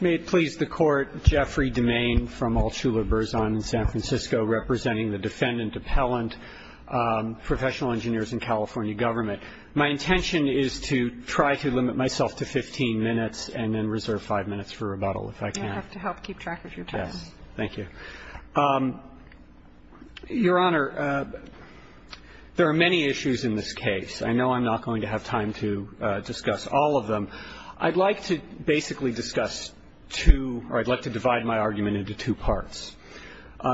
May it please the Court, Jeffrey DeMaine from Altula-Burzon in San Francisco, representing the Defendant Appellant, Professional Engineers in California Government. My intention is to try to limit myself to 15 minutes and then reserve 5 minutes for rebuttal, if I can. You'll have to help keep track of your time. Yes, thank you. Your Honor, there are many issues in this case. I know I'm not going to have time to discuss all of them. I'd like to basically discuss two or I'd like to divide my argument into two parts.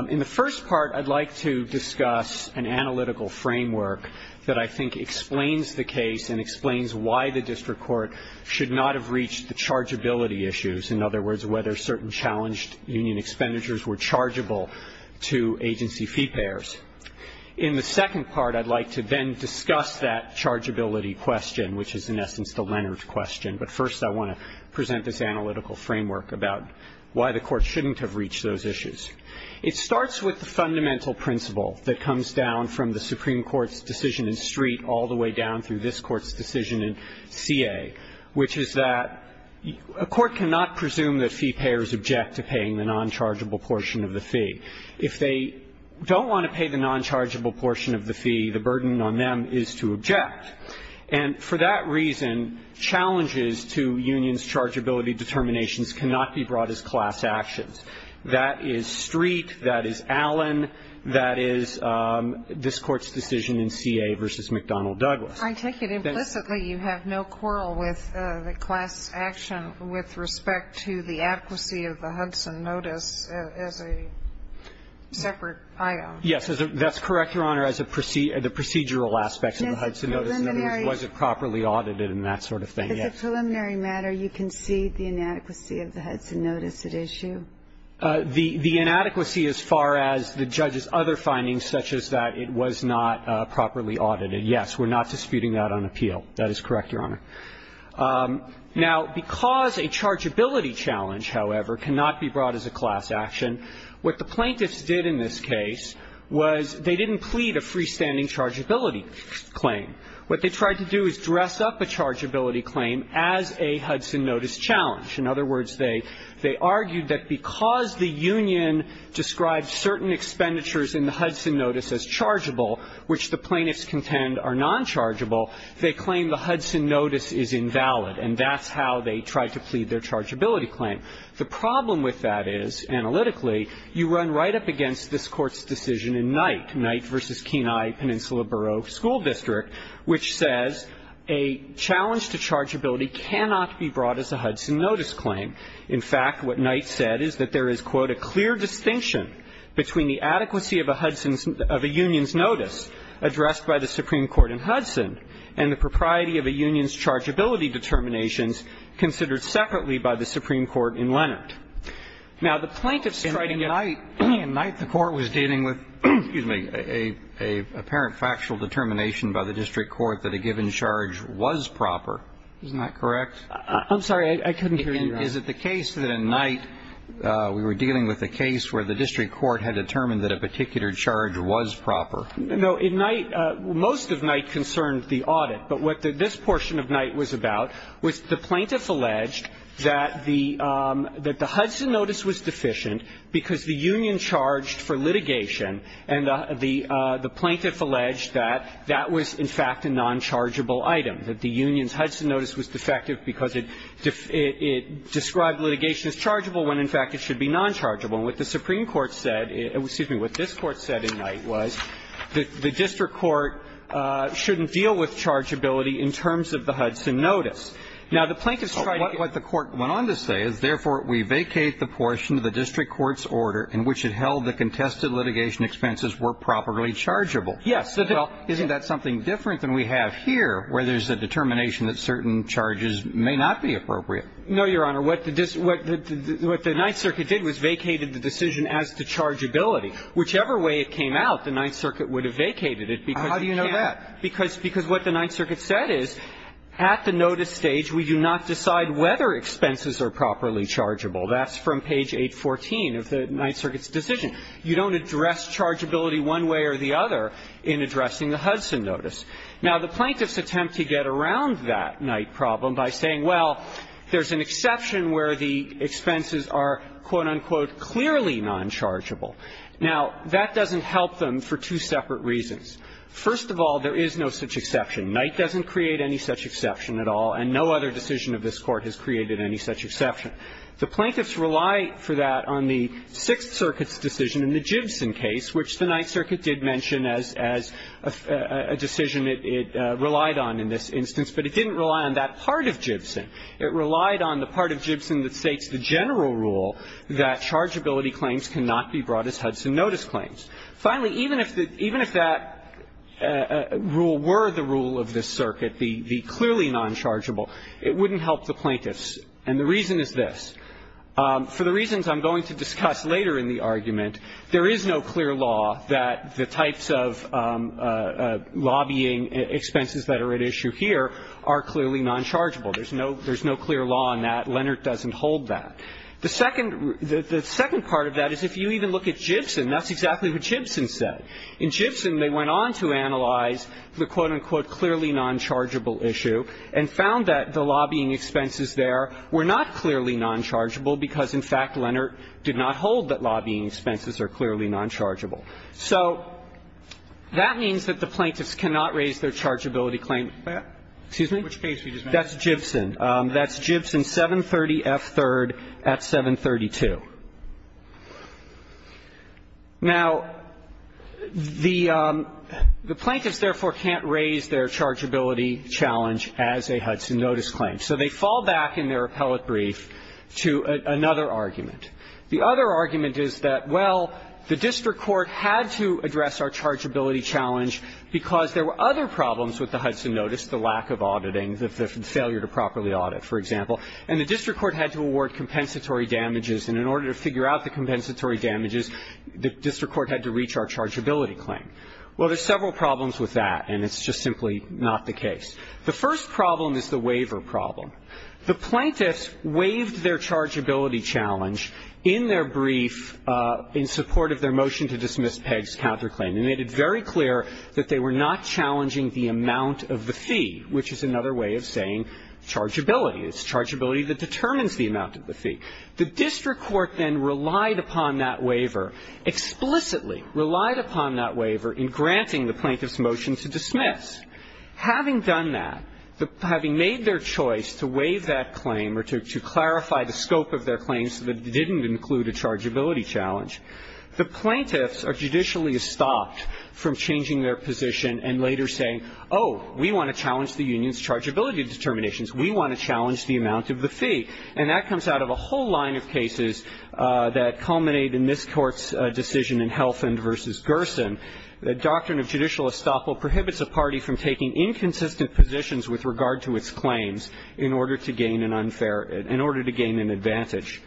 In the first part, I'd like to discuss an analytical framework that I think explains the case and explains why the district court should not have reached the chargeability issues, in other words, whether certain challenged union expenditures were chargeable to agency fee payers. In the second part, I'd like to then discuss that chargeability question, which is in the first part of the question, but first I want to present this analytical framework about why the Court shouldn't have reached those issues. It starts with the fundamental principle that comes down from the Supreme Court's decision in Street all the way down through this Court's decision in CA, which is that a court cannot presume that fee payers object to paying the non-chargeable portion of the fee. If they don't want to pay the non-chargeable portion of the fee, the burden on them is to object. And for that reason, challenges to unions' chargeability determinations cannot be brought as class actions. That is Street, that is Allen, that is this Court's decision in CA v. McDonnell-Douglas. I take it implicitly you have no quarrel with the class action with respect to the adequacy of the Hudson notice as a separate item. Yes. In other words, was it properly audited and that sort of thing, yes. As a preliminary matter, you concede the inadequacy of the Hudson notice at issue? The inadequacy as far as the judge's other findings such as that it was not properly audited, yes. We're not disputing that on appeal. That is correct, Your Honor. Now, because a chargeability challenge, however, cannot be brought as a class action, what the plaintiffs did in this case was they didn't plead a freestanding chargeability claim. What they tried to do is dress up a chargeability claim as a Hudson notice challenge. In other words, they argued that because the union described certain expenditures in the Hudson notice as chargeable, which the plaintiffs contend are nonchargeable, they claim the Hudson notice is invalid. And that's how they tried to plead their chargeability claim. The problem with that is, analytically, you run right up against this Court's decision in Knight, Knight v. Kenai Peninsula Borough School District, which says a challenge to chargeability cannot be brought as a Hudson notice claim. In fact, what Knight said is that there is, quote, a clear distinction between the adequacy of a Hudson's of a union's notice addressed by the Supreme Court in Hudson and the propriety of a union's chargeability determinations considered separately by the Supreme Court in Leonard. Now, the plaintiffs tried to get the court was dealing with, excuse me, a apparent factual determination by the district court that a given charge was proper. Isn't that correct? I'm sorry. I couldn't hear you. Is it the case that in Knight we were dealing with a case where the district court had determined that a particular charge was proper? No. In Knight, most of Knight concerned the audit. But what this portion of Knight was about was the plaintiffs alleged that the Hudson notice was deficient because the union charged for litigation, and the plaintiff alleged that that was, in fact, a nonchargeable item, that the union's Hudson notice was defective because it described litigation as chargeable when, in fact, it should be nonchargeable. And what the Supreme Court said, excuse me, what this Court said in Knight was that the district court shouldn't deal with chargeability in terms of the Hudson notice. Now, the plaintiffs tried to get... What the Court went on to say is, therefore, we vacate the portion of the district court's order in which it held that contested litigation expenses were properly chargeable. Yes. Well, isn't that something different than we have here where there's a determination that certain charges may not be appropriate? No, Your Honor. What the Ninth Circuit did was vacated the decision as to chargeability. Whichever way it came out, the Ninth Circuit would have vacated it because... How do you know that? Because what the Ninth Circuit said is, at the notice stage, we do not decide whether expenses are properly chargeable. That's from page 814 of the Ninth Circuit's decision. You don't address chargeability one way or the other in addressing the Hudson notice. Now, the plaintiffs attempt to get around that Knight problem by saying, well, there's an exception where the expenses are, quote, unquote, clearly nonchargeable. Now, that doesn't help them for two separate reasons. First of all, there is no such exception. Knight doesn't create any such exception at all, and no other decision of this Court has created any such exception. The plaintiffs rely for that on the Sixth Circuit's decision in the Gibson case, which the Ninth Circuit did mention as a decision it relied on in this instance, but it didn't rely on that part of Gibson. It relied on the part of Gibson that states the general rule that chargeability claims cannot be brought as Hudson notice claims. Finally, even if that rule were the rule of this circuit, the clearly nonchargeable, it wouldn't help the plaintiffs. And the reason is this. For the reasons I'm going to discuss later in the argument, there is no clear law that the types of lobbying expenses that are at issue here are clearly nonchargeable. There's no clear law on that. Leonard doesn't hold that. The second part of that is if you even look at Gibson, that's exactly what Gibson said. In Gibson, they went on to analyze the quote, unquote, clearly nonchargeable issue and found that the lobbying expenses there were not clearly nonchargeable because, in fact, Leonard did not hold that lobbying expenses are clearly nonchargeable. So that means that the plaintiffs cannot raise their chargeability claim. Excuse me? That's Gibson. That's Gibson, 730 F. 3rd at 732. Now, the plaintiffs, therefore, can't raise their chargeability challenge as a Hudson notice claim, so they fall back in their appellate brief to another argument. The other argument is that, well, the district court had to address our chargeability challenge because there were other problems with the Hudson notice, the lack of auditing, the failure to properly audit, for example, and the district court had to award compensatory damages, and in order to figure out the compensatory damages, the district court had to reach our chargeability claim. Well, there's several problems with that, and it's just simply not the case. The first problem is the waiver problem. The plaintiffs waived their chargeability challenge in their brief in support of their motion to dismiss Pegg's counterclaim. They made it very clear that they were not challenging the amount of the fee, which is another way of saying chargeability. It's chargeability that determines the amount of the fee. The district court then relied upon that waiver, explicitly relied upon that waiver in granting the plaintiffs' motion to dismiss. Having done that, having made their choice to waive that claim or to clarify the scope of their claim so that it didn't include a chargeability challenge, the plaintiffs are judicially stopped from changing their position and later saying, oh, we want to challenge the union's chargeability determinations. We want to challenge the amount of the fee. And that comes out of a whole line of cases that culminate in this Court's decision in Helfand v. Gerson. The doctrine of judicial estoppel prohibits a party from taking inconsistent positions with regard to its claims in order to gain an unfair – in order to gain an advantage.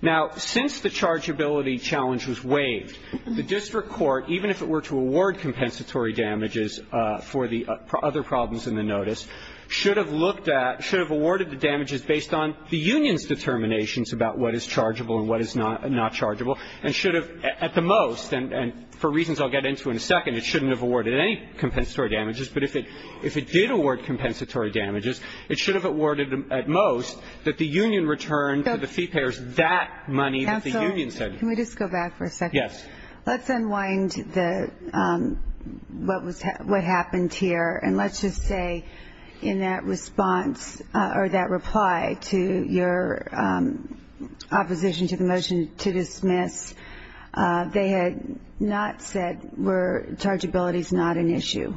Now, since the chargeability challenge was waived, the district court, even if it were to award compensatory damages for the other problems in the notice, should have looked at – should have awarded the damages based on the union's determinations about what is chargeable and what is not chargeable and should have, at the most – and for reasons I'll get into in a second, it shouldn't have awarded any compensatory damages, but if it did award compensatory damages, it should have awarded at most that the union return to the fee payers that money that the union said. Counsel, can we just go back for a second? Yes. Let's unwind the – what was – what happened here. And let's just say in that response – or that reply to your opposition to the motion to dismiss, they had not said, were – chargeability's not an issue.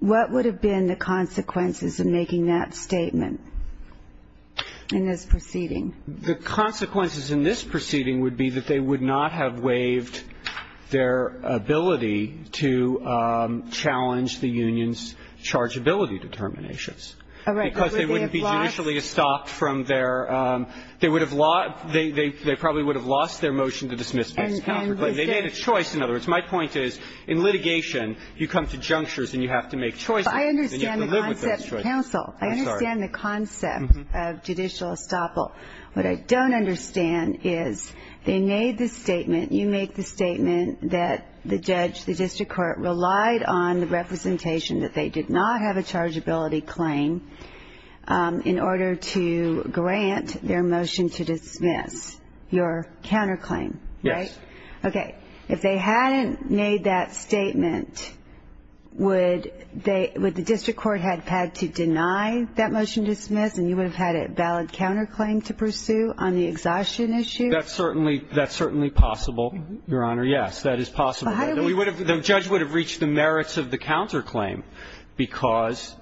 What would have been the consequences of making that statement? In this proceeding. The consequences in this proceeding would be that they would not have waived their ability to challenge the union's chargeability determinations. All right. Because they wouldn't be judicially estopped from their – they would have lost – they probably would have lost their motion to dismiss, but they made a choice. In other words, my point is, in litigation, you come to junctures and you have to make choices. I understand the concept, Counsel. I understand the concept of judicial estoppel. What I don't understand is they made the statement – you make the statement that the judge, the district court relied on the representation that they did not have a chargeability claim in order to grant their motion to dismiss, your counterclaim, right? Yes. Okay. If they hadn't made that statement, would they – would the district court have had to deny that motion to dismiss and you would have had a valid counterclaim to pursue on the exhaustion issue? That's certainly – that's certainly possible, Your Honor. Yes. That is possible. But how do we – The judge would have reached the merits of the counterclaim because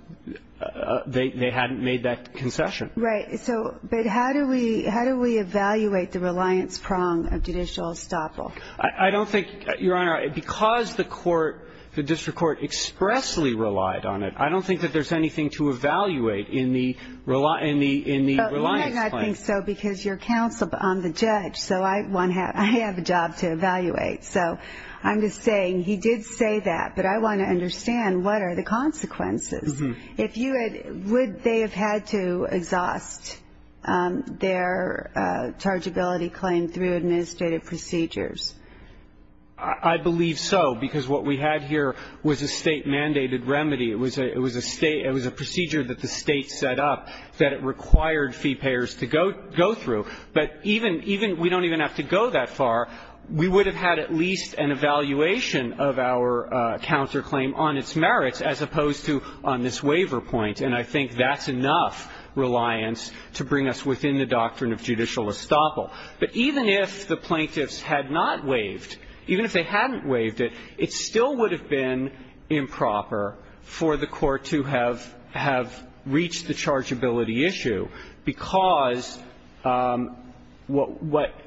they hadn't made that concession. Right. So – but how do we – how do we evaluate the reliance prong of judicial estoppel? I don't think – Your Honor, because the court – the district court expressly relied on it, I don't think that there's anything to evaluate in the – in the reliance plan. I think so because you're counsel, but I'm the judge. So I want to have – I have a job to evaluate. So I'm just saying he did say that, but I want to understand what are the consequences. If you had – would they have had to exhaust their chargeability claim through administrative procedures? I believe so because what we had here was a state-mandated remedy. It was a – it was a state – it was a procedure that the state set up that it required fee payers to go – go through. But even – even – we don't even have to go that far. We would have had at least an evaluation of our counterclaim on its merits as opposed to on this waiver point. And I think that's enough reliance to bring us within the doctrine of judicial estoppel. But even if the plaintiffs had not waived, even if they hadn't waived it, it still would have been improper for the court to have – have reached the chargeability issue because what –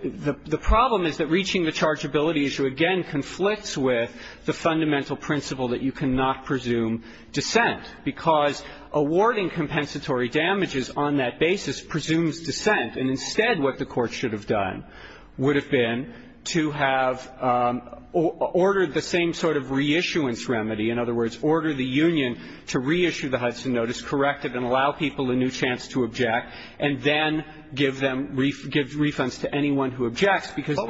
the problem is that reaching the chargeability issue, again, conflicts with the fundamental principle that you cannot presume dissent because awarding compensatory damages on that basis presumes dissent. And instead what the court should have done would have been to have ordered the same sort of reissuance remedy. In other words, order the union to reissue the Hudson Notice, correct it, and allow people a new chance to object, and then give them – give refunds to anyone who objects because that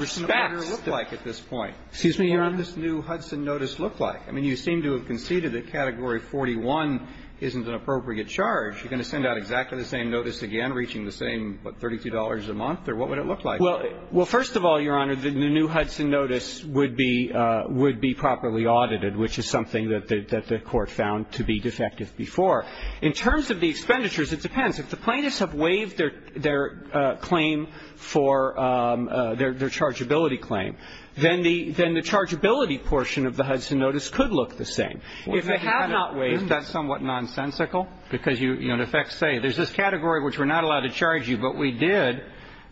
respects the – What would the new Hudson order look like at this point? Excuse me, Your Honor? What would this new Hudson Notice look like? I mean, you seem to have conceded that Category 41 isn't an appropriate charge. You're going to send out exactly the same notice again, reaching the same, what, $32 a month? Or what would it look like? Well – well, first of all, Your Honor, the new Hudson Notice would be – would be properly audited, which is something that the – that the court found to be defective before. In terms of the expenditures, it depends. If the plaintiffs have waived their – their claim for – their chargeability claim, then the – then the chargeability portion of the Hudson Notice could look the same. If they have not waived, that's somewhat nonsensical because you – you know, in effect, say there's this category which we're not allowed to charge you, but we did,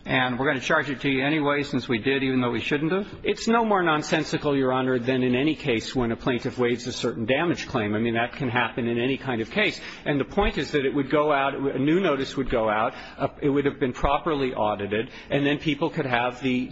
and we're going to charge it to you anyway since we did, even though we shouldn't have. It's no more nonsensical, Your Honor, than in any case when a plaintiff waives a certain damage claim. I mean, that can happen in any kind of case. And the point is that it would go out – a new notice would go out. It would have been properly audited, and then people could have the –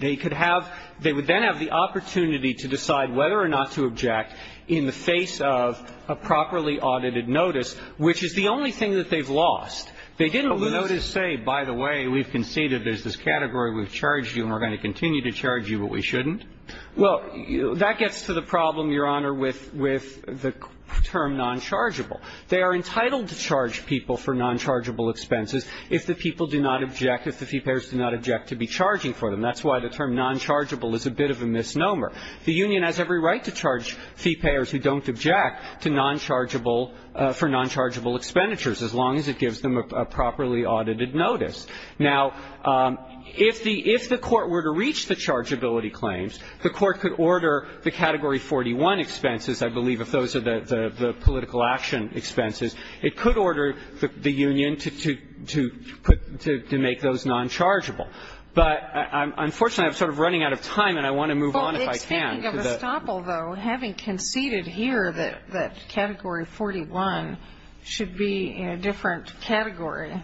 they could have – they would then have the opportunity to decide whether or not to object in the face of a properly audited notice, which is the only thing that they've lost. They didn't lose the notice, say, by the way, we've conceded, there's this category we've charged you, and we're going to continue to charge you, but we shouldn't. Well, that gets to the problem, Your Honor, with – with the term nonchargeable. They are entitled to charge people for nonchargeable expenses if the people do not object, if the fee payers do not object to be charging for them. That's why the term nonchargeable is a bit of a misnomer. The union has every right to charge fee payers who don't object to nonchargeable – for nonchargeable expenditures, as long as it gives them a properly audited notice. Now, if the – if the Court were to reach the chargeability claims, the Court could order the category 41 expenses, I believe, if those are the political action expenses, it could order the union to – to put – to make those nonchargeable. But unfortunately, I'm sort of running out of time, and I want to move on if I can. Speaking of estoppel, though, having conceded here that – that category 41 should be in a different category,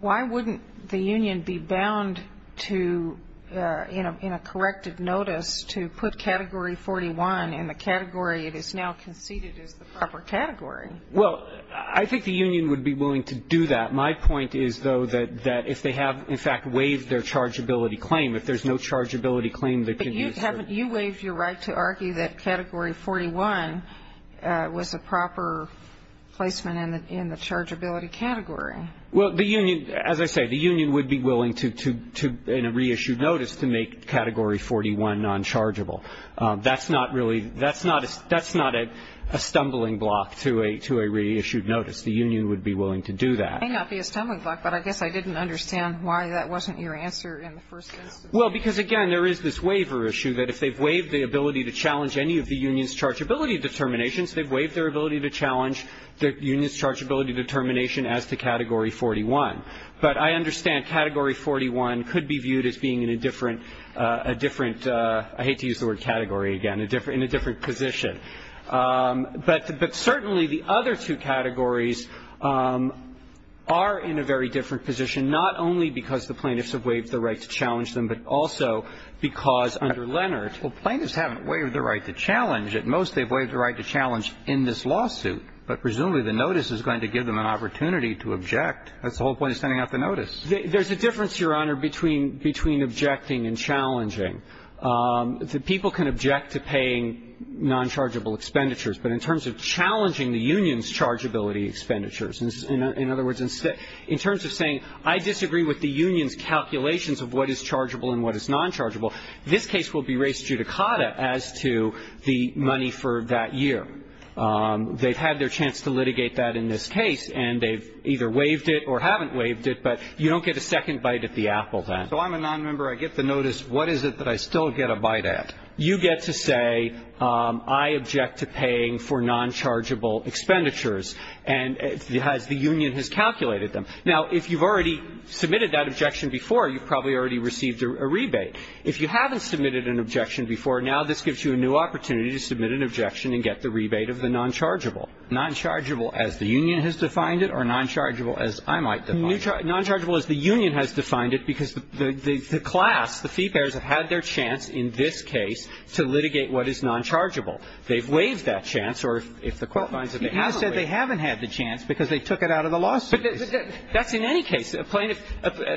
why wouldn't the union be bound to, in a – in a corrected notice, to put category 41 in the category it is now conceded is the proper category? Well, I think the union would be willing to do that. My point is, though, that – that if they have, in fact, waived their chargeability claim, if there's no chargeability claim, they can use – But haven't you waived your right to argue that category 41 was a proper placement in the chargeability category? Well, the union – as I say, the union would be willing to, in a reissued notice, to make category 41 nonchargeable. That's not really – that's not a stumbling block to a reissued notice. The union would be willing to do that. It may not be a stumbling block, but I guess I didn't understand why that wasn't your answer in the first instance. Well, because, again, there is this waiver issue, that if they've waived the ability to challenge any of the union's chargeability determinations, they've waived their ability to challenge the union's chargeability determination as to category 41. But I understand category 41 could be viewed as being in a different – a different – I hate to use the word category again – in a different position. But certainly the other two categories are in a very different position, not only because the plaintiffs have waived the right to challenge them, but also because under Leonard – Well, plaintiffs haven't waived the right to challenge. At most, they've waived the right to challenge in this lawsuit. But presumably the notice is going to give them an opportunity to object. That's the whole point of sending out the notice. There's a difference, Your Honor, between – between objecting and challenging. People can object to paying nonchargeable expenditures, but in terms of challenging the union's chargeability expenditures – in other words, in terms of saying, I disagree with the union's calculations of what is chargeable and what is nonchargeable, this case will be raised judicata as to the money for that year. They've had their chance to litigate that in this case, and they've either waived it or haven't waived it. But you don't get a second bite at the apple, then. So I'm a nonmember. I get the notice. What is it that I still get a bite at? You get to say, I object to paying for nonchargeable expenditures, as the union has calculated them. Now, if you've already submitted that objection before, you've probably already received a rebate. If you haven't submitted an objection before, now this gives you a new opportunity to submit an objection and get the rebate of the nonchargeable. Nonchargeable as the union has defined it or nonchargeable as I might define it? Nonchargeable as the union has defined it, because the class, the fee payers, have had their chance in this case to litigate what is nonchargeable. They've waived that chance, or if the quote finds that they haven't waived it. But you said they haven't had the chance because they took it out of the lawsuit. That's in any case, a plaintiff,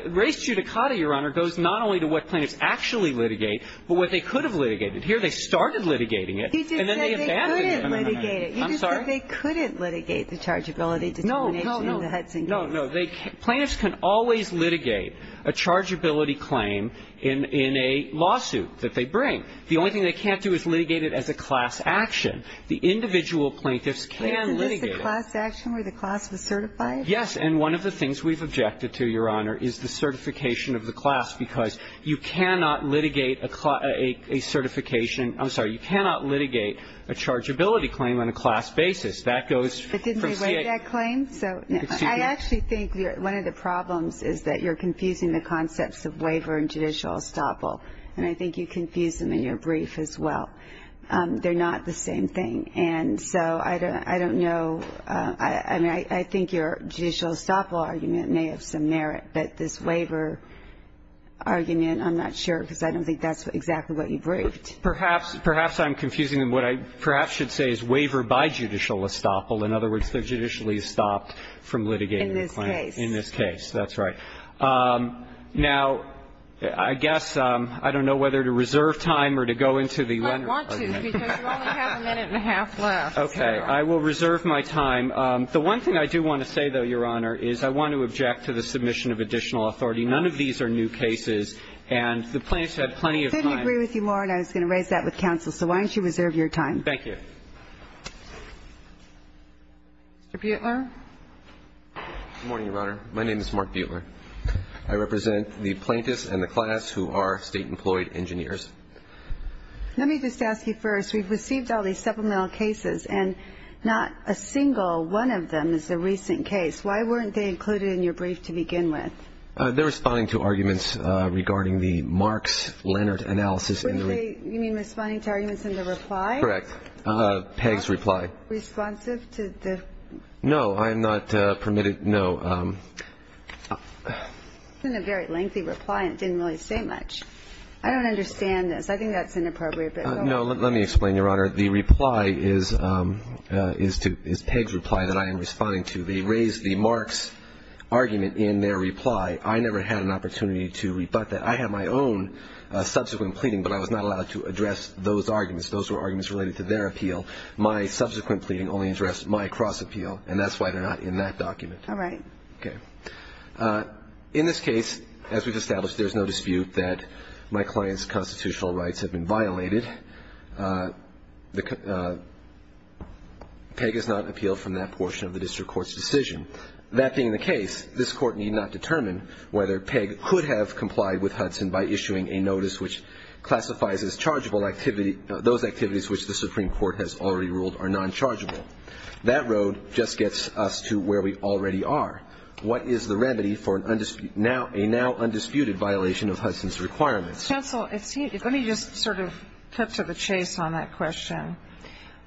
race judicata, Your Honor, goes not only to what plaintiffs actually litigate, but what they could have litigated. Here, they started litigating it, and then they abandoned it. You just said they couldn't litigate it. I'm sorry? You just said they couldn't litigate the chargeability determination in the Hudson case. No, no, no. Plaintiffs can always litigate a chargeability claim in a lawsuit that they bring. The only thing they can't do is litigate it as a class action. The individual plaintiffs can litigate it. Isn't this the class action where the class was certified? Yes, and one of the things we've objected to, Your Honor, is the certification of the class, because you cannot litigate a certification. I'm sorry, you cannot litigate a chargeability claim on a class basis. That goes from CA- But didn't they waive that claim? So, I actually think one of the problems is that you're confusing the concepts of waiver and judicial estoppel, and I think you confuse them in your brief as well. They're not the same thing. And so, I don't know, I mean, I think your judicial estoppel argument may have some merit, but this waiver argument, I'm not sure, because I don't think that's exactly what you briefed. Perhaps I'm confusing them. What I perhaps should say is waiver by judicial estoppel. In other words, they're judicially stopped from litigating the claim. In this case. In this case, that's right. Now, I guess, I don't know whether to reserve time or to go into the- I don't want to, because you only have a minute and a half left. Okay. I will reserve my time. The one thing I do want to say, though, Your Honor, is I want to object to the submission of additional authority. None of these are new cases, and the plaintiffs had plenty of time- I couldn't agree with you more, and I was going to raise that with counsel. So, why don't you reserve your time? Thank you. Mr. Buetler? Good morning, Your Honor. My name is Mark Buetler. I represent the plaintiffs and the class who are state-employed engineers. Let me just ask you first, we've received all these supplemental cases, and not a single one of them is a recent case. Why weren't they included in your brief to begin with? They're responding to arguments regarding the Marks-Leonard analysis- You mean responding to arguments in the reply? Correct. Pegg's reply. Responsive to the- No, I am not permitted- No. It's been a very lengthy reply, and it didn't really say much. I don't understand this. I think that's inappropriate, but- No, let me explain, Your Honor. The reply is Pegg's reply that I am responding to. They raised the Marks argument in their reply. I never had an opportunity to rebut that. I had my own subsequent pleading, but I was not allowed to address those arguments. Those were arguments related to their appeal. My subsequent pleading only addressed my cross-appeal, and that's why they're not in that document. All right. Okay. In this case, as we've established, there's no dispute that my client's constitutional rights have been violated. Pegg has not appealed from that portion of the district court's decision. That being the case, this court need not determine whether Pegg could have complied with Hudson by issuing a notice which classifies as those activities which the Supreme Court has already ruled are non-chargeable. That road just gets us to where we already are. What is the remedy for a now-undisputed violation of Hudson's requirements? Counsel, let me just sort of cut to the chase on that question.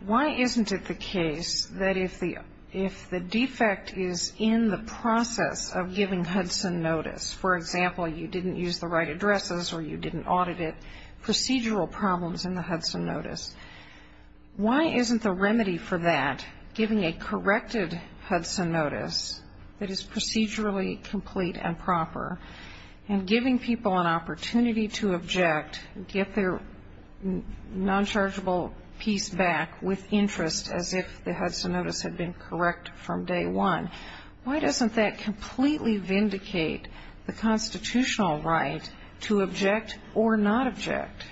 Why isn't it the case that if the defect is in the process of giving Hudson notice, for example, you didn't use the right addresses or you didn't audit it, procedural problems in the Hudson notice, why isn't the remedy for that giving a corrected Hudson notice that is procedurally complete and proper and giving people an opportunity to object, get their non-chargeable piece back with interest as if the Hudson notice had been correct from day one, why doesn't that completely vindicate the constitutional right to object or not object?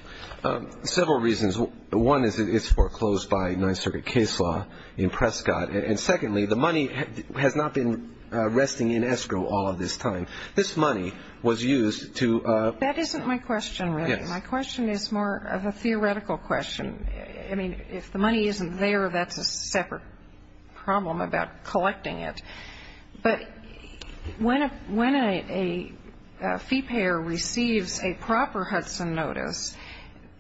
Several reasons. One is it's foreclosed by Ninth Circuit case law in Prescott. And secondly, the money has not been resting in escrow all of this time. This money was used to... That isn't my question, really. My question is more of a theoretical question. I mean, if the money isn't there, that's a separate problem about collecting it. But when a fee payer receives a proper Hudson notice,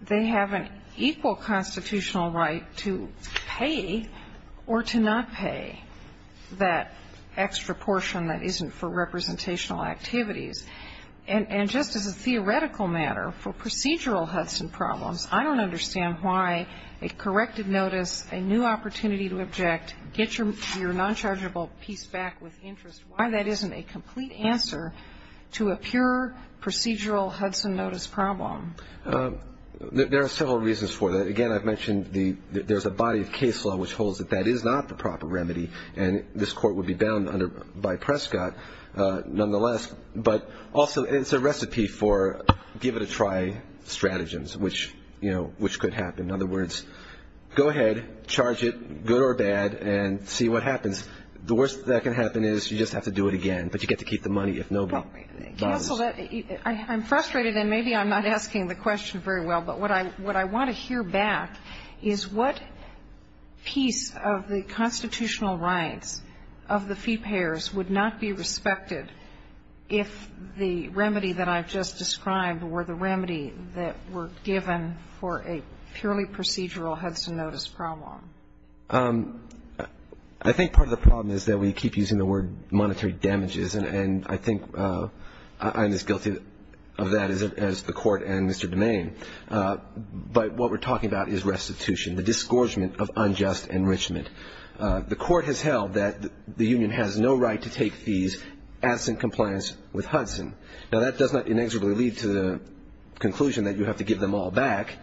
they have an equal constitutional right to pay or to not pay that extra portion that isn't for representational activities. And just as a theoretical matter, for procedural Hudson problems, I don't understand why a corrected notice, a new opportunity to object, get your non-chargeable piece back with interest, why that isn't a complete answer to a pure procedural Hudson notice problem. There are several reasons for that. Again, I've mentioned there's a body of case law which holds that that is not the proper remedy. And this Court would be bound by Prescott nonetheless. But also, it's a recipe for give it a try stratagems, which could happen. In other words, go ahead, charge it, good or bad, and see what happens. The worst that can happen is you just have to do it again. But you get to keep the money if nobody bothers. Counsel, I'm frustrated. And maybe I'm not asking the question very well. But what I want to hear back is what piece of the constitutional rights of the fee payers would not be respected if the remedy that I've just described were the remedy that were given for a purely procedural Hudson notice problem? I think part of the problem is that we keep using the word monetary damages. And I think I'm as guilty of that as the Court and Mr. Domain. But what we're talking about is restitution, the disgorgement of unjust enrichment. The Court has held that the union has no right to take fees absent compliance with Hudson. Now, that does not inexorably lead to the conclusion that you have to give them all back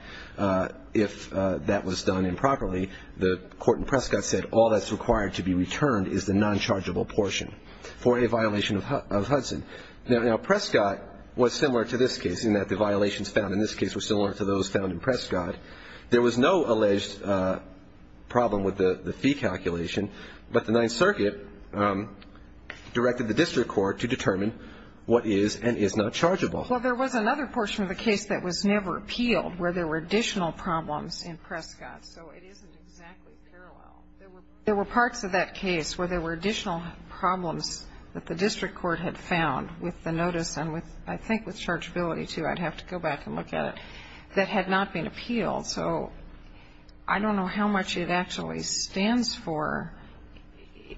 if that was done improperly. The Court in Prescott said all that's required to be returned is the non-chargeable portion for a violation of Hudson. Now, Prescott was similar to this case in that the violations found in this case were similar to those found in Prescott. There was no alleged problem with the fee calculation, but the Ninth Circuit directed the district court to determine what is and is not chargeable. Well, there was another portion of the case that was never appealed where there were additional problems in Prescott. So it isn't exactly parallel. There were parts of that case where there were additional problems that the district court had found with the notice and with, I think, with chargeability, too. I'd have to go back and look at it. That had not been appealed. So I don't know how much it actually stands for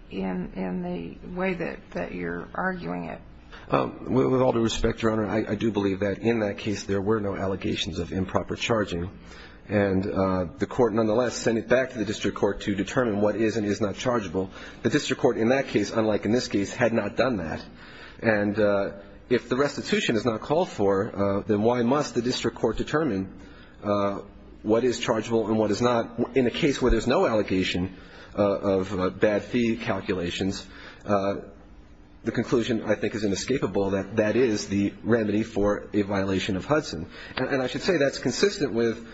in the way that you're arguing it. With all due respect, Your Honor, I do believe that in that case there were no allegations of improper charging. And the Court nonetheless sent it back to the district court to determine what is and is not chargeable. The district court in that case, unlike in this case, had not done that. And if the restitution is not called for, then why must the district court determine what is chargeable and what is not? In a case where there's no allegation of bad fee calculations, the conclusion, I think, is inescapable that that is the remedy for a violation of Hudson. And I should say that's consistent with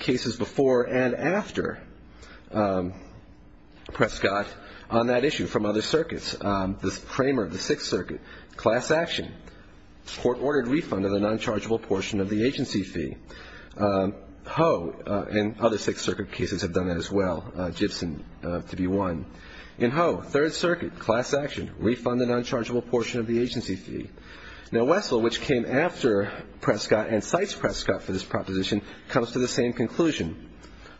cases before and after Prescott on that issue from other circuits. The Kramer of the Sixth Circuit, class action, court-ordered refund of the non-chargeable portion of the agency fee. Ho and other Sixth Circuit cases have done that as well, Gibson to be one. In Ho, Third Circuit, class action, refund the non-chargeable portion of the agency fee. Now, Wessel, which came after Prescott and cites Prescott for this proposition, comes to the same conclusion.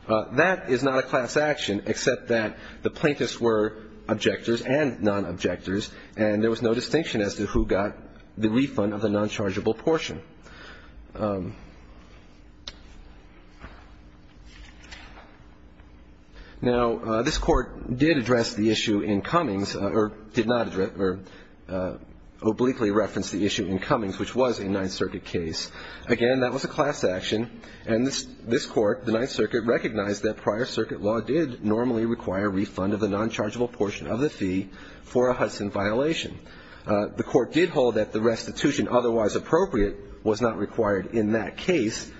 That is not a class action, except that the plaintiffs were objectors and non-objectors, and there was no distinction as to who got the refund of the non-chargeable portion. Now, this Court did address the issue in Cummings, or did not address, or obliquely referenced the issue in Cummings, which was a Ninth Circuit case. Again, that was a class action, and this Court, the Ninth Circuit, recognized that prior circuit law did normally require refund of the non-chargeable portion of the fee for a Hudson violation. The Court did hold that the restitution otherwise appropriate was not required in that case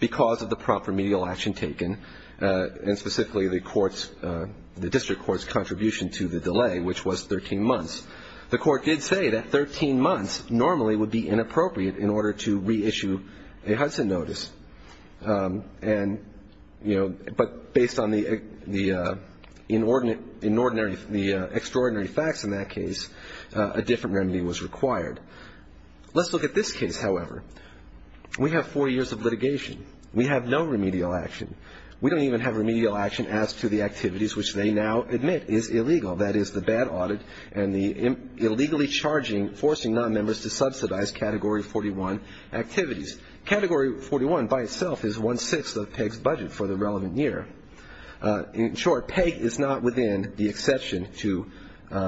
because of the prompt remedial action taken, and specifically the District Court's contribution to the delay, which was 13 months. The Court did say that 13 months normally would be inappropriate in order to reissue a Hudson notice, but based on the extraordinary facts in that case, a different remedy was required. Let's look at this case, however. We have four years of litigation. We have no remedial action. We don't even have remedial action as to the activities which they now admit is illegal, that is, the bad audit and the illegally charging, forcing nonmembers to subsidize Category 41 activities. Category 41 by itself is one-sixth of Pegg's budget for the relevant year. In short, Pegg is not within the exception to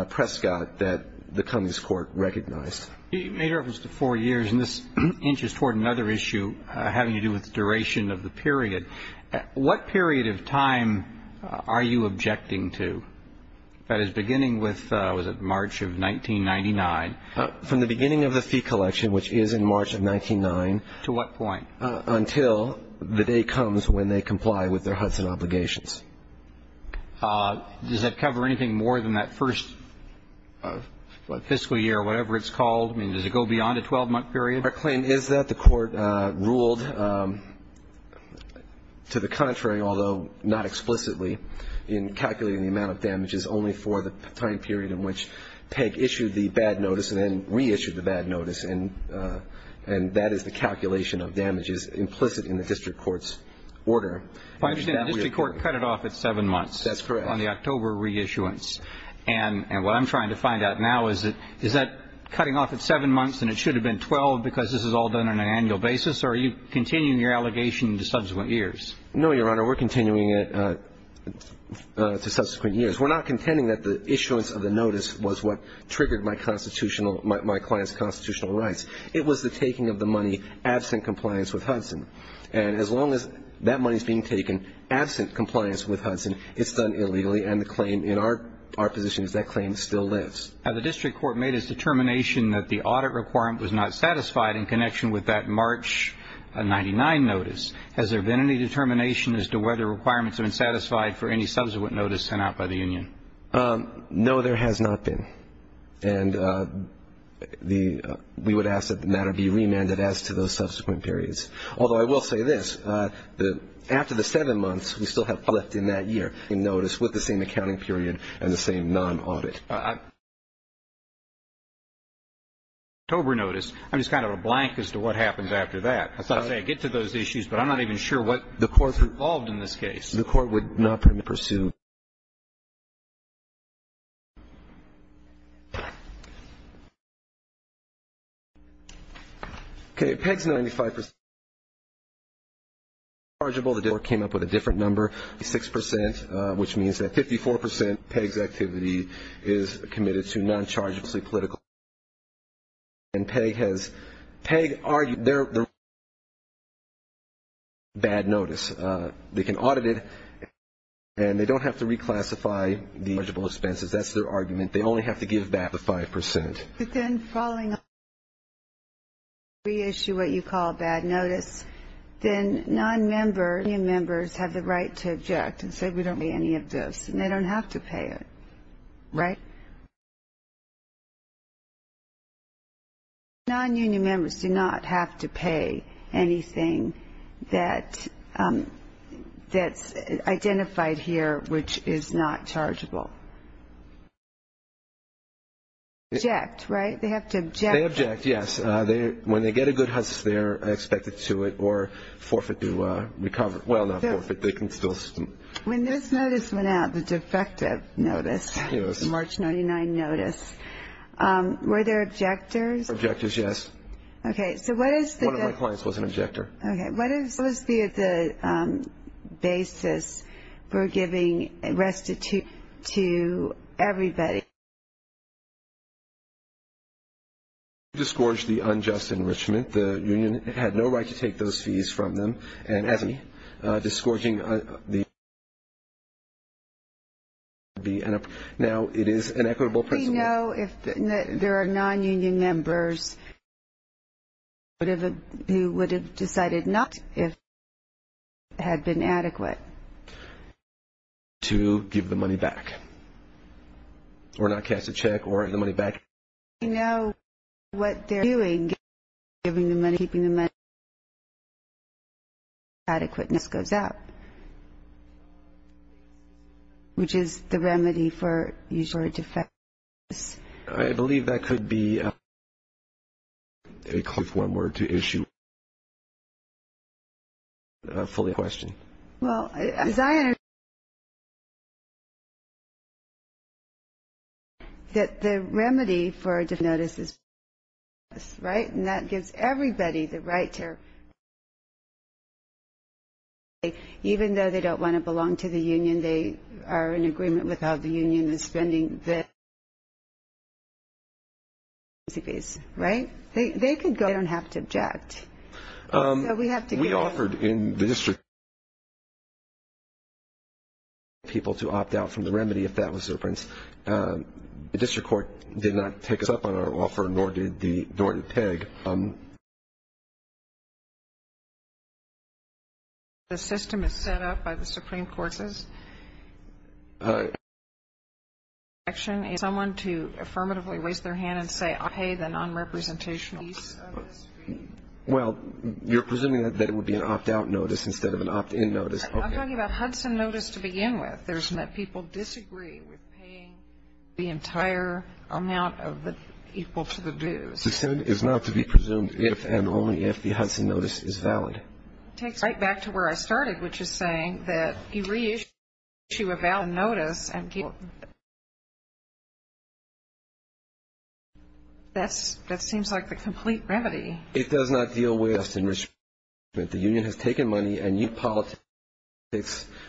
Prescott that the Cummings Court recognized. You made reference to four years, and this inches toward another issue having to do with the duration of the period. What period of time are you objecting to? That is, beginning with, was it March of 1999? From the beginning of the fee collection, which is in March of 1999. To what point? Until the day comes when they comply with their Hudson obligations. Does that cover anything more than that first fiscal year, whatever it's called? I mean, does it go beyond a 12-month period? Our claim is that the Court ruled to the contrary, although not explicitly, in calculating the amount of damages only for the time period in which Pegg issued the bad notice and then reissued the bad notice. And that is the calculation of damages implicit in the District Court's order. I understand the District Court cut it off at seven months. That's correct. On the October reissuance. And what I'm trying to find out now is, is that cutting off at seven months, and it should have been 12 because this is all done on an annual basis, or are you continuing your allegation into subsequent years? No, Your Honor. We're continuing it to subsequent years. We're not contending that the issuance of the notice was what triggered my constitutional, my client's constitutional rights. It was the taking of the money absent compliance with Hudson. And as long as that money is being taken absent compliance with Hudson, it's done illegally. And the claim in our position is that claim still lives. The District Court made its determination that the audit requirement was not satisfied in connection with that March 1999 notice. Has there been any determination as to whether requirements have been satisfied for any subsequent notice sent out by the union? No, there has not been. And we would ask that the matter be remanded as to those subsequent periods. Although I will say this, after the seven months, we still have left in that year in notice with the same accounting period and the same non-audit. October notice, I'm just kind of a blank as to what happens after that. I'll say I get to those issues, but I'm not even sure what the courts are involved in this case. The court would not permit pursuit. Okay. Pegg's 95% chargeable. The dealer came up with a different number, 56%, which means that 54% Pegg's activity is committed to non-chargeable political expenses. And Pegg has, Pegg argued they're bad notice. They can audit it and they don't have to reclassify the chargeable expenses. That's their argument. They only have to give back the 5%. But then following reissue what you call bad notice, then non-member union members have the right to object and say, we don't pay any of this and they don't have to pay it, right? Non-union members do not have to pay anything that's identified here, which is not chargeable. Object, right? They have to object. They object, yes. When they get a good hustle, they're expected to it or forfeit to recover. Well, not forfeit, they can still... When this notice went out, the defective notice, March 99 notice, were there objectors? Objectors, yes. Okay. So what is the... One of my clients was an objector. Okay. What is the basis for giving restitution to everybody? Discouraged the unjust enrichment. The union had no right to take those fees from them. And discouraging the... Now it is an equitable principle. You know, if there are non-union members, you would have decided not if had been adequate. To give the money back or not cast a check or the money back. You know, what they're doing, giving the money, keeping the money, and the... Adequateness goes up. Which is the remedy for... I believe that could be a... If one were to issue... Fully question. Well, as I understand... That the remedy for a notice is... Right? And that gives everybody the right to... Even though they don't want to belong to the union, they are in agreement with how the union is spending the... Right? They could go. They don't have to object. So we have to... We offered in the district... People to opt out from the remedy if that was their preference. The district court did not take us up on our offer, nor did the... Nor did PEG. The system is set up by the Supreme Courts. Action is someone to affirmatively raise their hand and say, I'll pay the non-representational... Well, you're presuming that it would be an opt-out notice instead of an opt-in notice. I'm talking about Hudson notice to begin with. People disagree with paying the entire amount of the... Equal to the dues. The system is not to be presumed if and only if the Hudson notice is valid. Takes right back to where I started, which is saying that you reissue a valid notice and... That's... That seems like the complete remedy. It does not deal with... The union has taken money and you...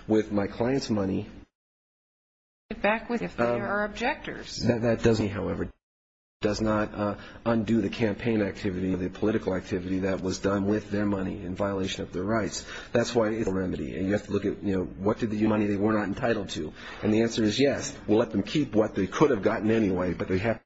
With my client's money... That doesn't... However, it does not undo the campaign activity, the political activity that was done with their money in violation of their rights. That's why it's a remedy. And you have to look at, you know, what did the money they were not entitled to? And the answer is yes, we'll let them keep what they could have gotten anyway, but they have...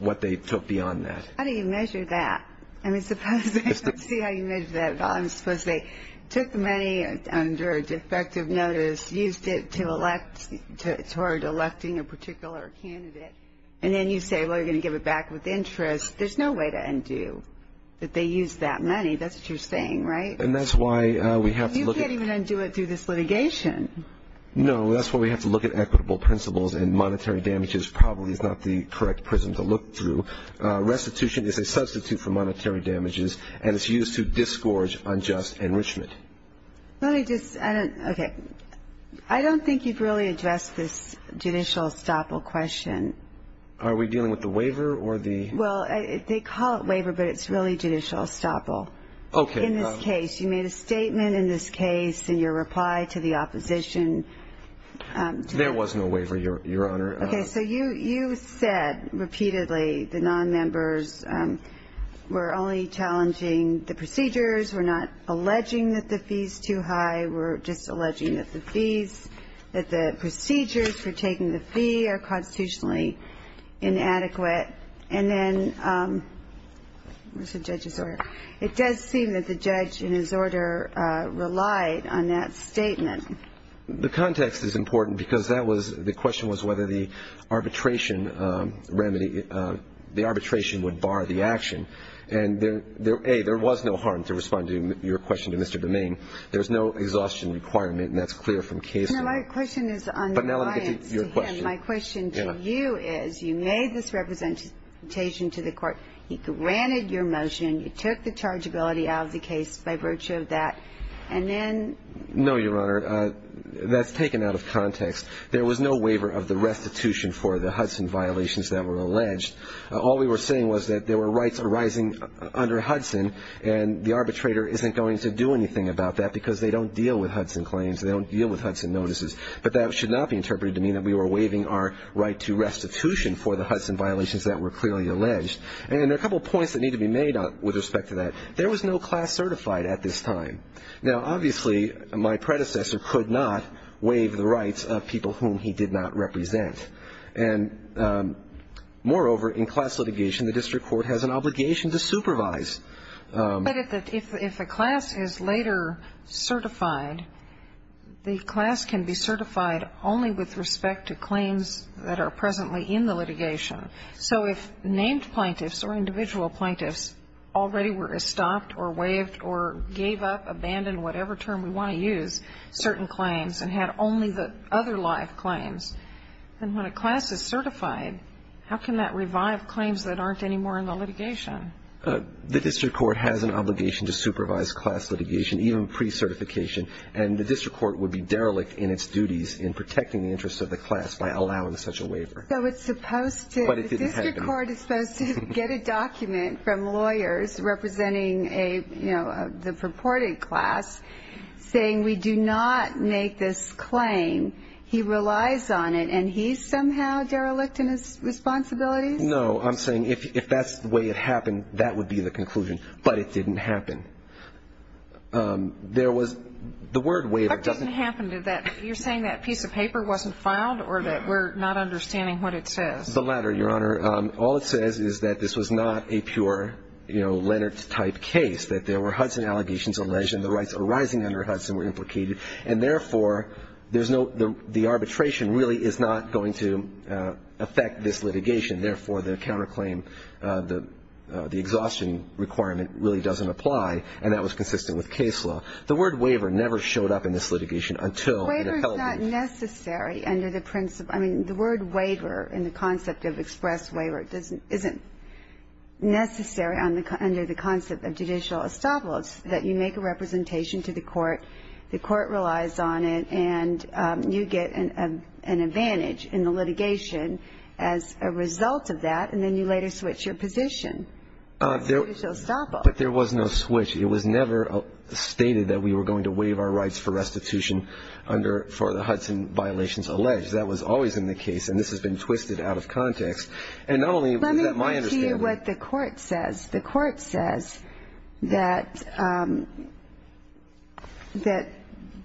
What they took beyond that. How do you measure that? I mean, suppose they... Let's see how you measure that. I suppose they took the money under a defective notice, used it to elect... Toward electing a particular candidate. And then you say, well, you're going to give it back with interest. There's no way to undo that they use that money. That's what you're saying, right? And that's why we have to look at... You can't even undo it through this litigation. No, that's why we have to look at equitable principles. And monetary damages probably is not the correct prism to look through. Restitution is a substitute for monetary damages. And it's used to disgorge unjust enrichment. Let me just... I don't... Okay. I don't think you've really addressed this judicial estoppel question. Are we dealing with the waiver or the... Well, they call it waiver, but it's really judicial estoppel. Okay. In this case, you made a statement in this case, and your reply to the opposition... There was no waiver, Your Honor. Okay. You said repeatedly the non-members were only challenging the procedures, were not alleging that the fees too high, were just alleging that the fees... That the procedures for taking the fee are constitutionally inadequate. And then... Where's the judge's order? It does seem that the judge in his order relied on that statement. The context is important because that was... The question was whether the arbitration remedy... The arbitration would bar the action. And A, there was no harm to respond to your question to Mr. Domingue. There's no exhaustion requirement, and that's clear from case law. No, my question is on reliance to him. My question to you is, you made this representation to the court. He granted your motion. You took the chargeability out of the case by virtue of that. And then... No, Your Honor. That's taken out of context. There was no waiver of the restitution for the Hudson violations that were alleged. All we were saying was that there were rights arising under Hudson, and the arbitrator isn't going to do anything about that because they don't deal with Hudson claims. They don't deal with Hudson notices. But that should not be interpreted to mean that we were waiving our right to restitution for the Hudson violations that were clearly alleged. And there are a couple of points that need to be made with respect to that. There was no class certified at this time. Now, obviously, my predecessor could not waive the rights of people whom he did not represent. And moreover, in class litigation, the district court has an obligation to supervise. But if a class is later certified, the class can be certified only with respect to claims that are presently in the litigation. So if named plaintiffs or individual plaintiffs already were stopped or waived or gave up, abandoned, whatever term we want to use, certain claims, and had only the other live claims, then when a class is certified, how can that revive claims that aren't anymore in the litigation? The district court has an obligation to supervise class litigation, even pre-certification. And the district court would be derelict in its duties in protecting the interests of the class by allowing such a waiver. So it's supposed to, the district court is supposed to get a document from lawyers representing the purported class saying, we do not make this claim. He relies on it. And he's somehow derelict in his responsibilities? No. I'm saying if that's the way it happened, that would be the conclusion. But it didn't happen. There was the word waiver doesn't happen to that. You're saying that piece of paper wasn't filed or that we're not understanding what it says. The latter, Your Honor. All it says is that this was not a pure, you know, Leonard-type case, that there were Hudson allegations alleged, and the rights arising under Hudson were implicated. And therefore, there's no, the arbitration really is not going to affect this litigation. Therefore, the counterclaim, the exhaustion requirement really doesn't apply. And that was consistent with case law. The word waiver never showed up in this litigation until. Waiver is not necessary under the principle, I mean, the word waiver and the concept of express waiver doesn't, isn't necessary under the concept of judicial estoppel. That you make a representation to the court. The court relies on it. And you get an advantage in the litigation as a result of that. And then you later switch your position to judicial estoppel. But there was no switch. It was never stated that we were going to waive our rights for restitution for the Hudson violations alleged. That was always in the case. And this has been twisted out of context. And not only is that my understanding. Let me repeat what the court says. The court says that, that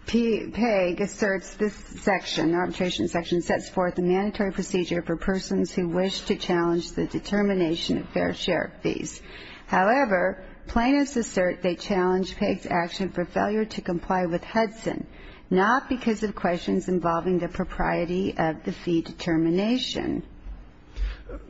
Pegg asserts this section, arbitration section, sets forth a mandatory procedure for persons who wish to challenge the determination of fair share fees. However, plaintiffs assert they challenge Pegg's action for failure to comply with Hudson, not because of questions involving the propriety of the fee determination.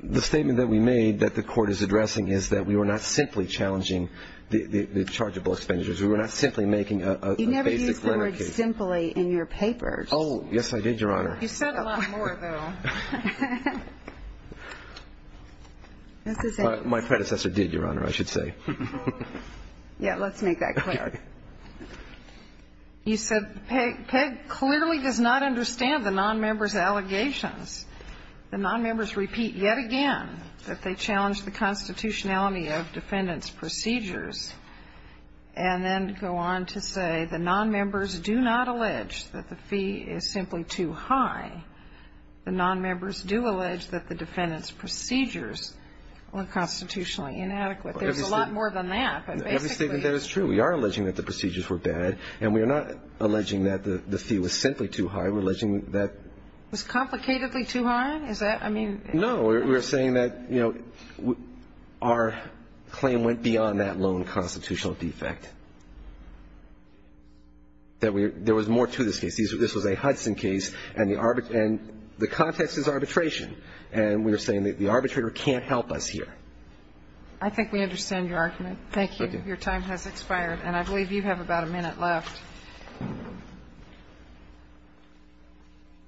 The statement that we made that the court is addressing is that we were not simply challenging the, the, the chargeable expenditures. We were not simply making a, a. You never used the word simply in your papers. Oh yes, I did your honor. You said a lot more though. My predecessor did your honor, I should say. Yeah, let's make that clear. You said Pegg, Pegg clearly does not understand the non-members allegations. The non-members repeat yet again that they challenge the constitutionality of defendant's procedures and then go on to say the non-members do not allege that the fee is simply too high. The non-members do allege that the defendant's procedures were constitutionally inadequate. There's a lot more than that. Every statement that is true. We are alleging that the procedures were bad and we are not alleging that the, the fee was simply too high. We're alleging that. Was complicatedly too high? Is that, I mean. No, we're saying that, you know, our claim went beyond that lone constitutional defect. That we, there was more to this case. This was a Hudson case and the, and the context is arbitration and we're saying that the arbitrator can't help us here. I think we understand your argument. Thank you. Your time has expired and I believe you have about a minute left.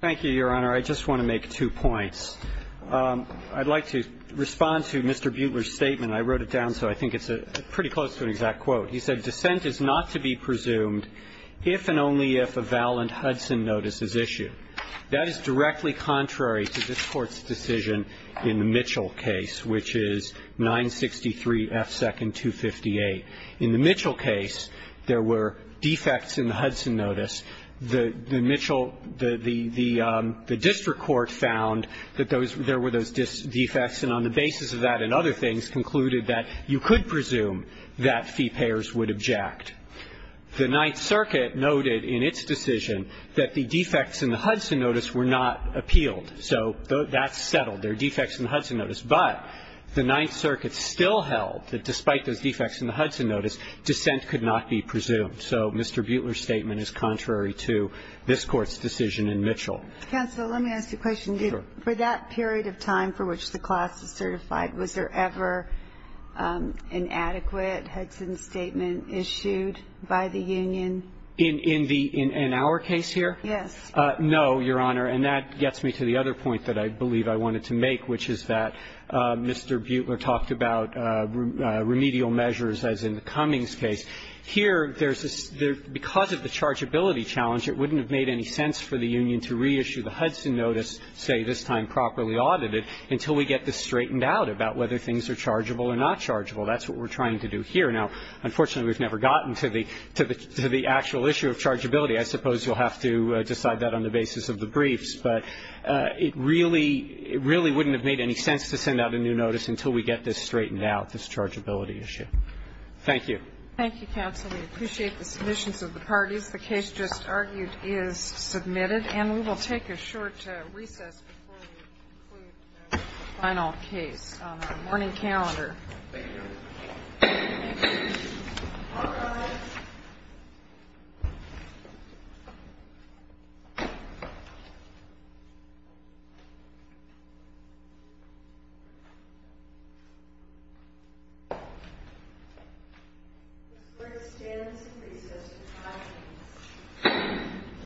Thank you, Your Honor. I just want to make two points. I'd like to respond to Mr. Buechler's statement. I wrote it down so I think it's a pretty close to an exact quote. He said, Dissent is not to be presumed if and only if a valent Hudson notice is issued. That is directly contrary to this Court's decision in the Mitchell case, which is 963 F second 258. In the Mitchell case, there were defects in the Hudson notice. The Mitchell, the district court found that there were those defects and on the basis of that and other things concluded that you could presume that fee payers would object. The Ninth Circuit noted in its decision that the defects in the Hudson notice were not appealed. So that's settled. There are defects in the Hudson notice. But the Ninth Circuit still held that despite those defects in the Hudson notice, dissent could not be presumed. So Mr. Buechler's statement is contrary to this Court's decision in Mitchell. Counsel, let me ask you a question. Sure. For that period of time for which the class is certified, was there ever an adequate Hudson statement issued by the union? In our case here? Yes. No, Your Honor. And that gets me to the other point that I believe I wanted to make, which is that Mr. Buechler talked about remedial measures as in the Cummings case. Here, there's this – because of the chargeability challenge, it wouldn't have made any sense for the union to reissue the Hudson notice, say, this time properly audited, until we get this straightened out about whether things are chargeable or not chargeable. That's what we're trying to do here. Now, unfortunately, we've never gotten to the actual issue of chargeability. I suppose you'll have to decide that on the basis of the briefs. But it really – it really wouldn't have made any sense to send out a new notice until we get this straightened out, this chargeability issue. Thank you. Thank you, counsel. We appreciate the submissions of the parties. The case just argued is submitted. And we will take a short recess before we conclude the final case on our morning calendar.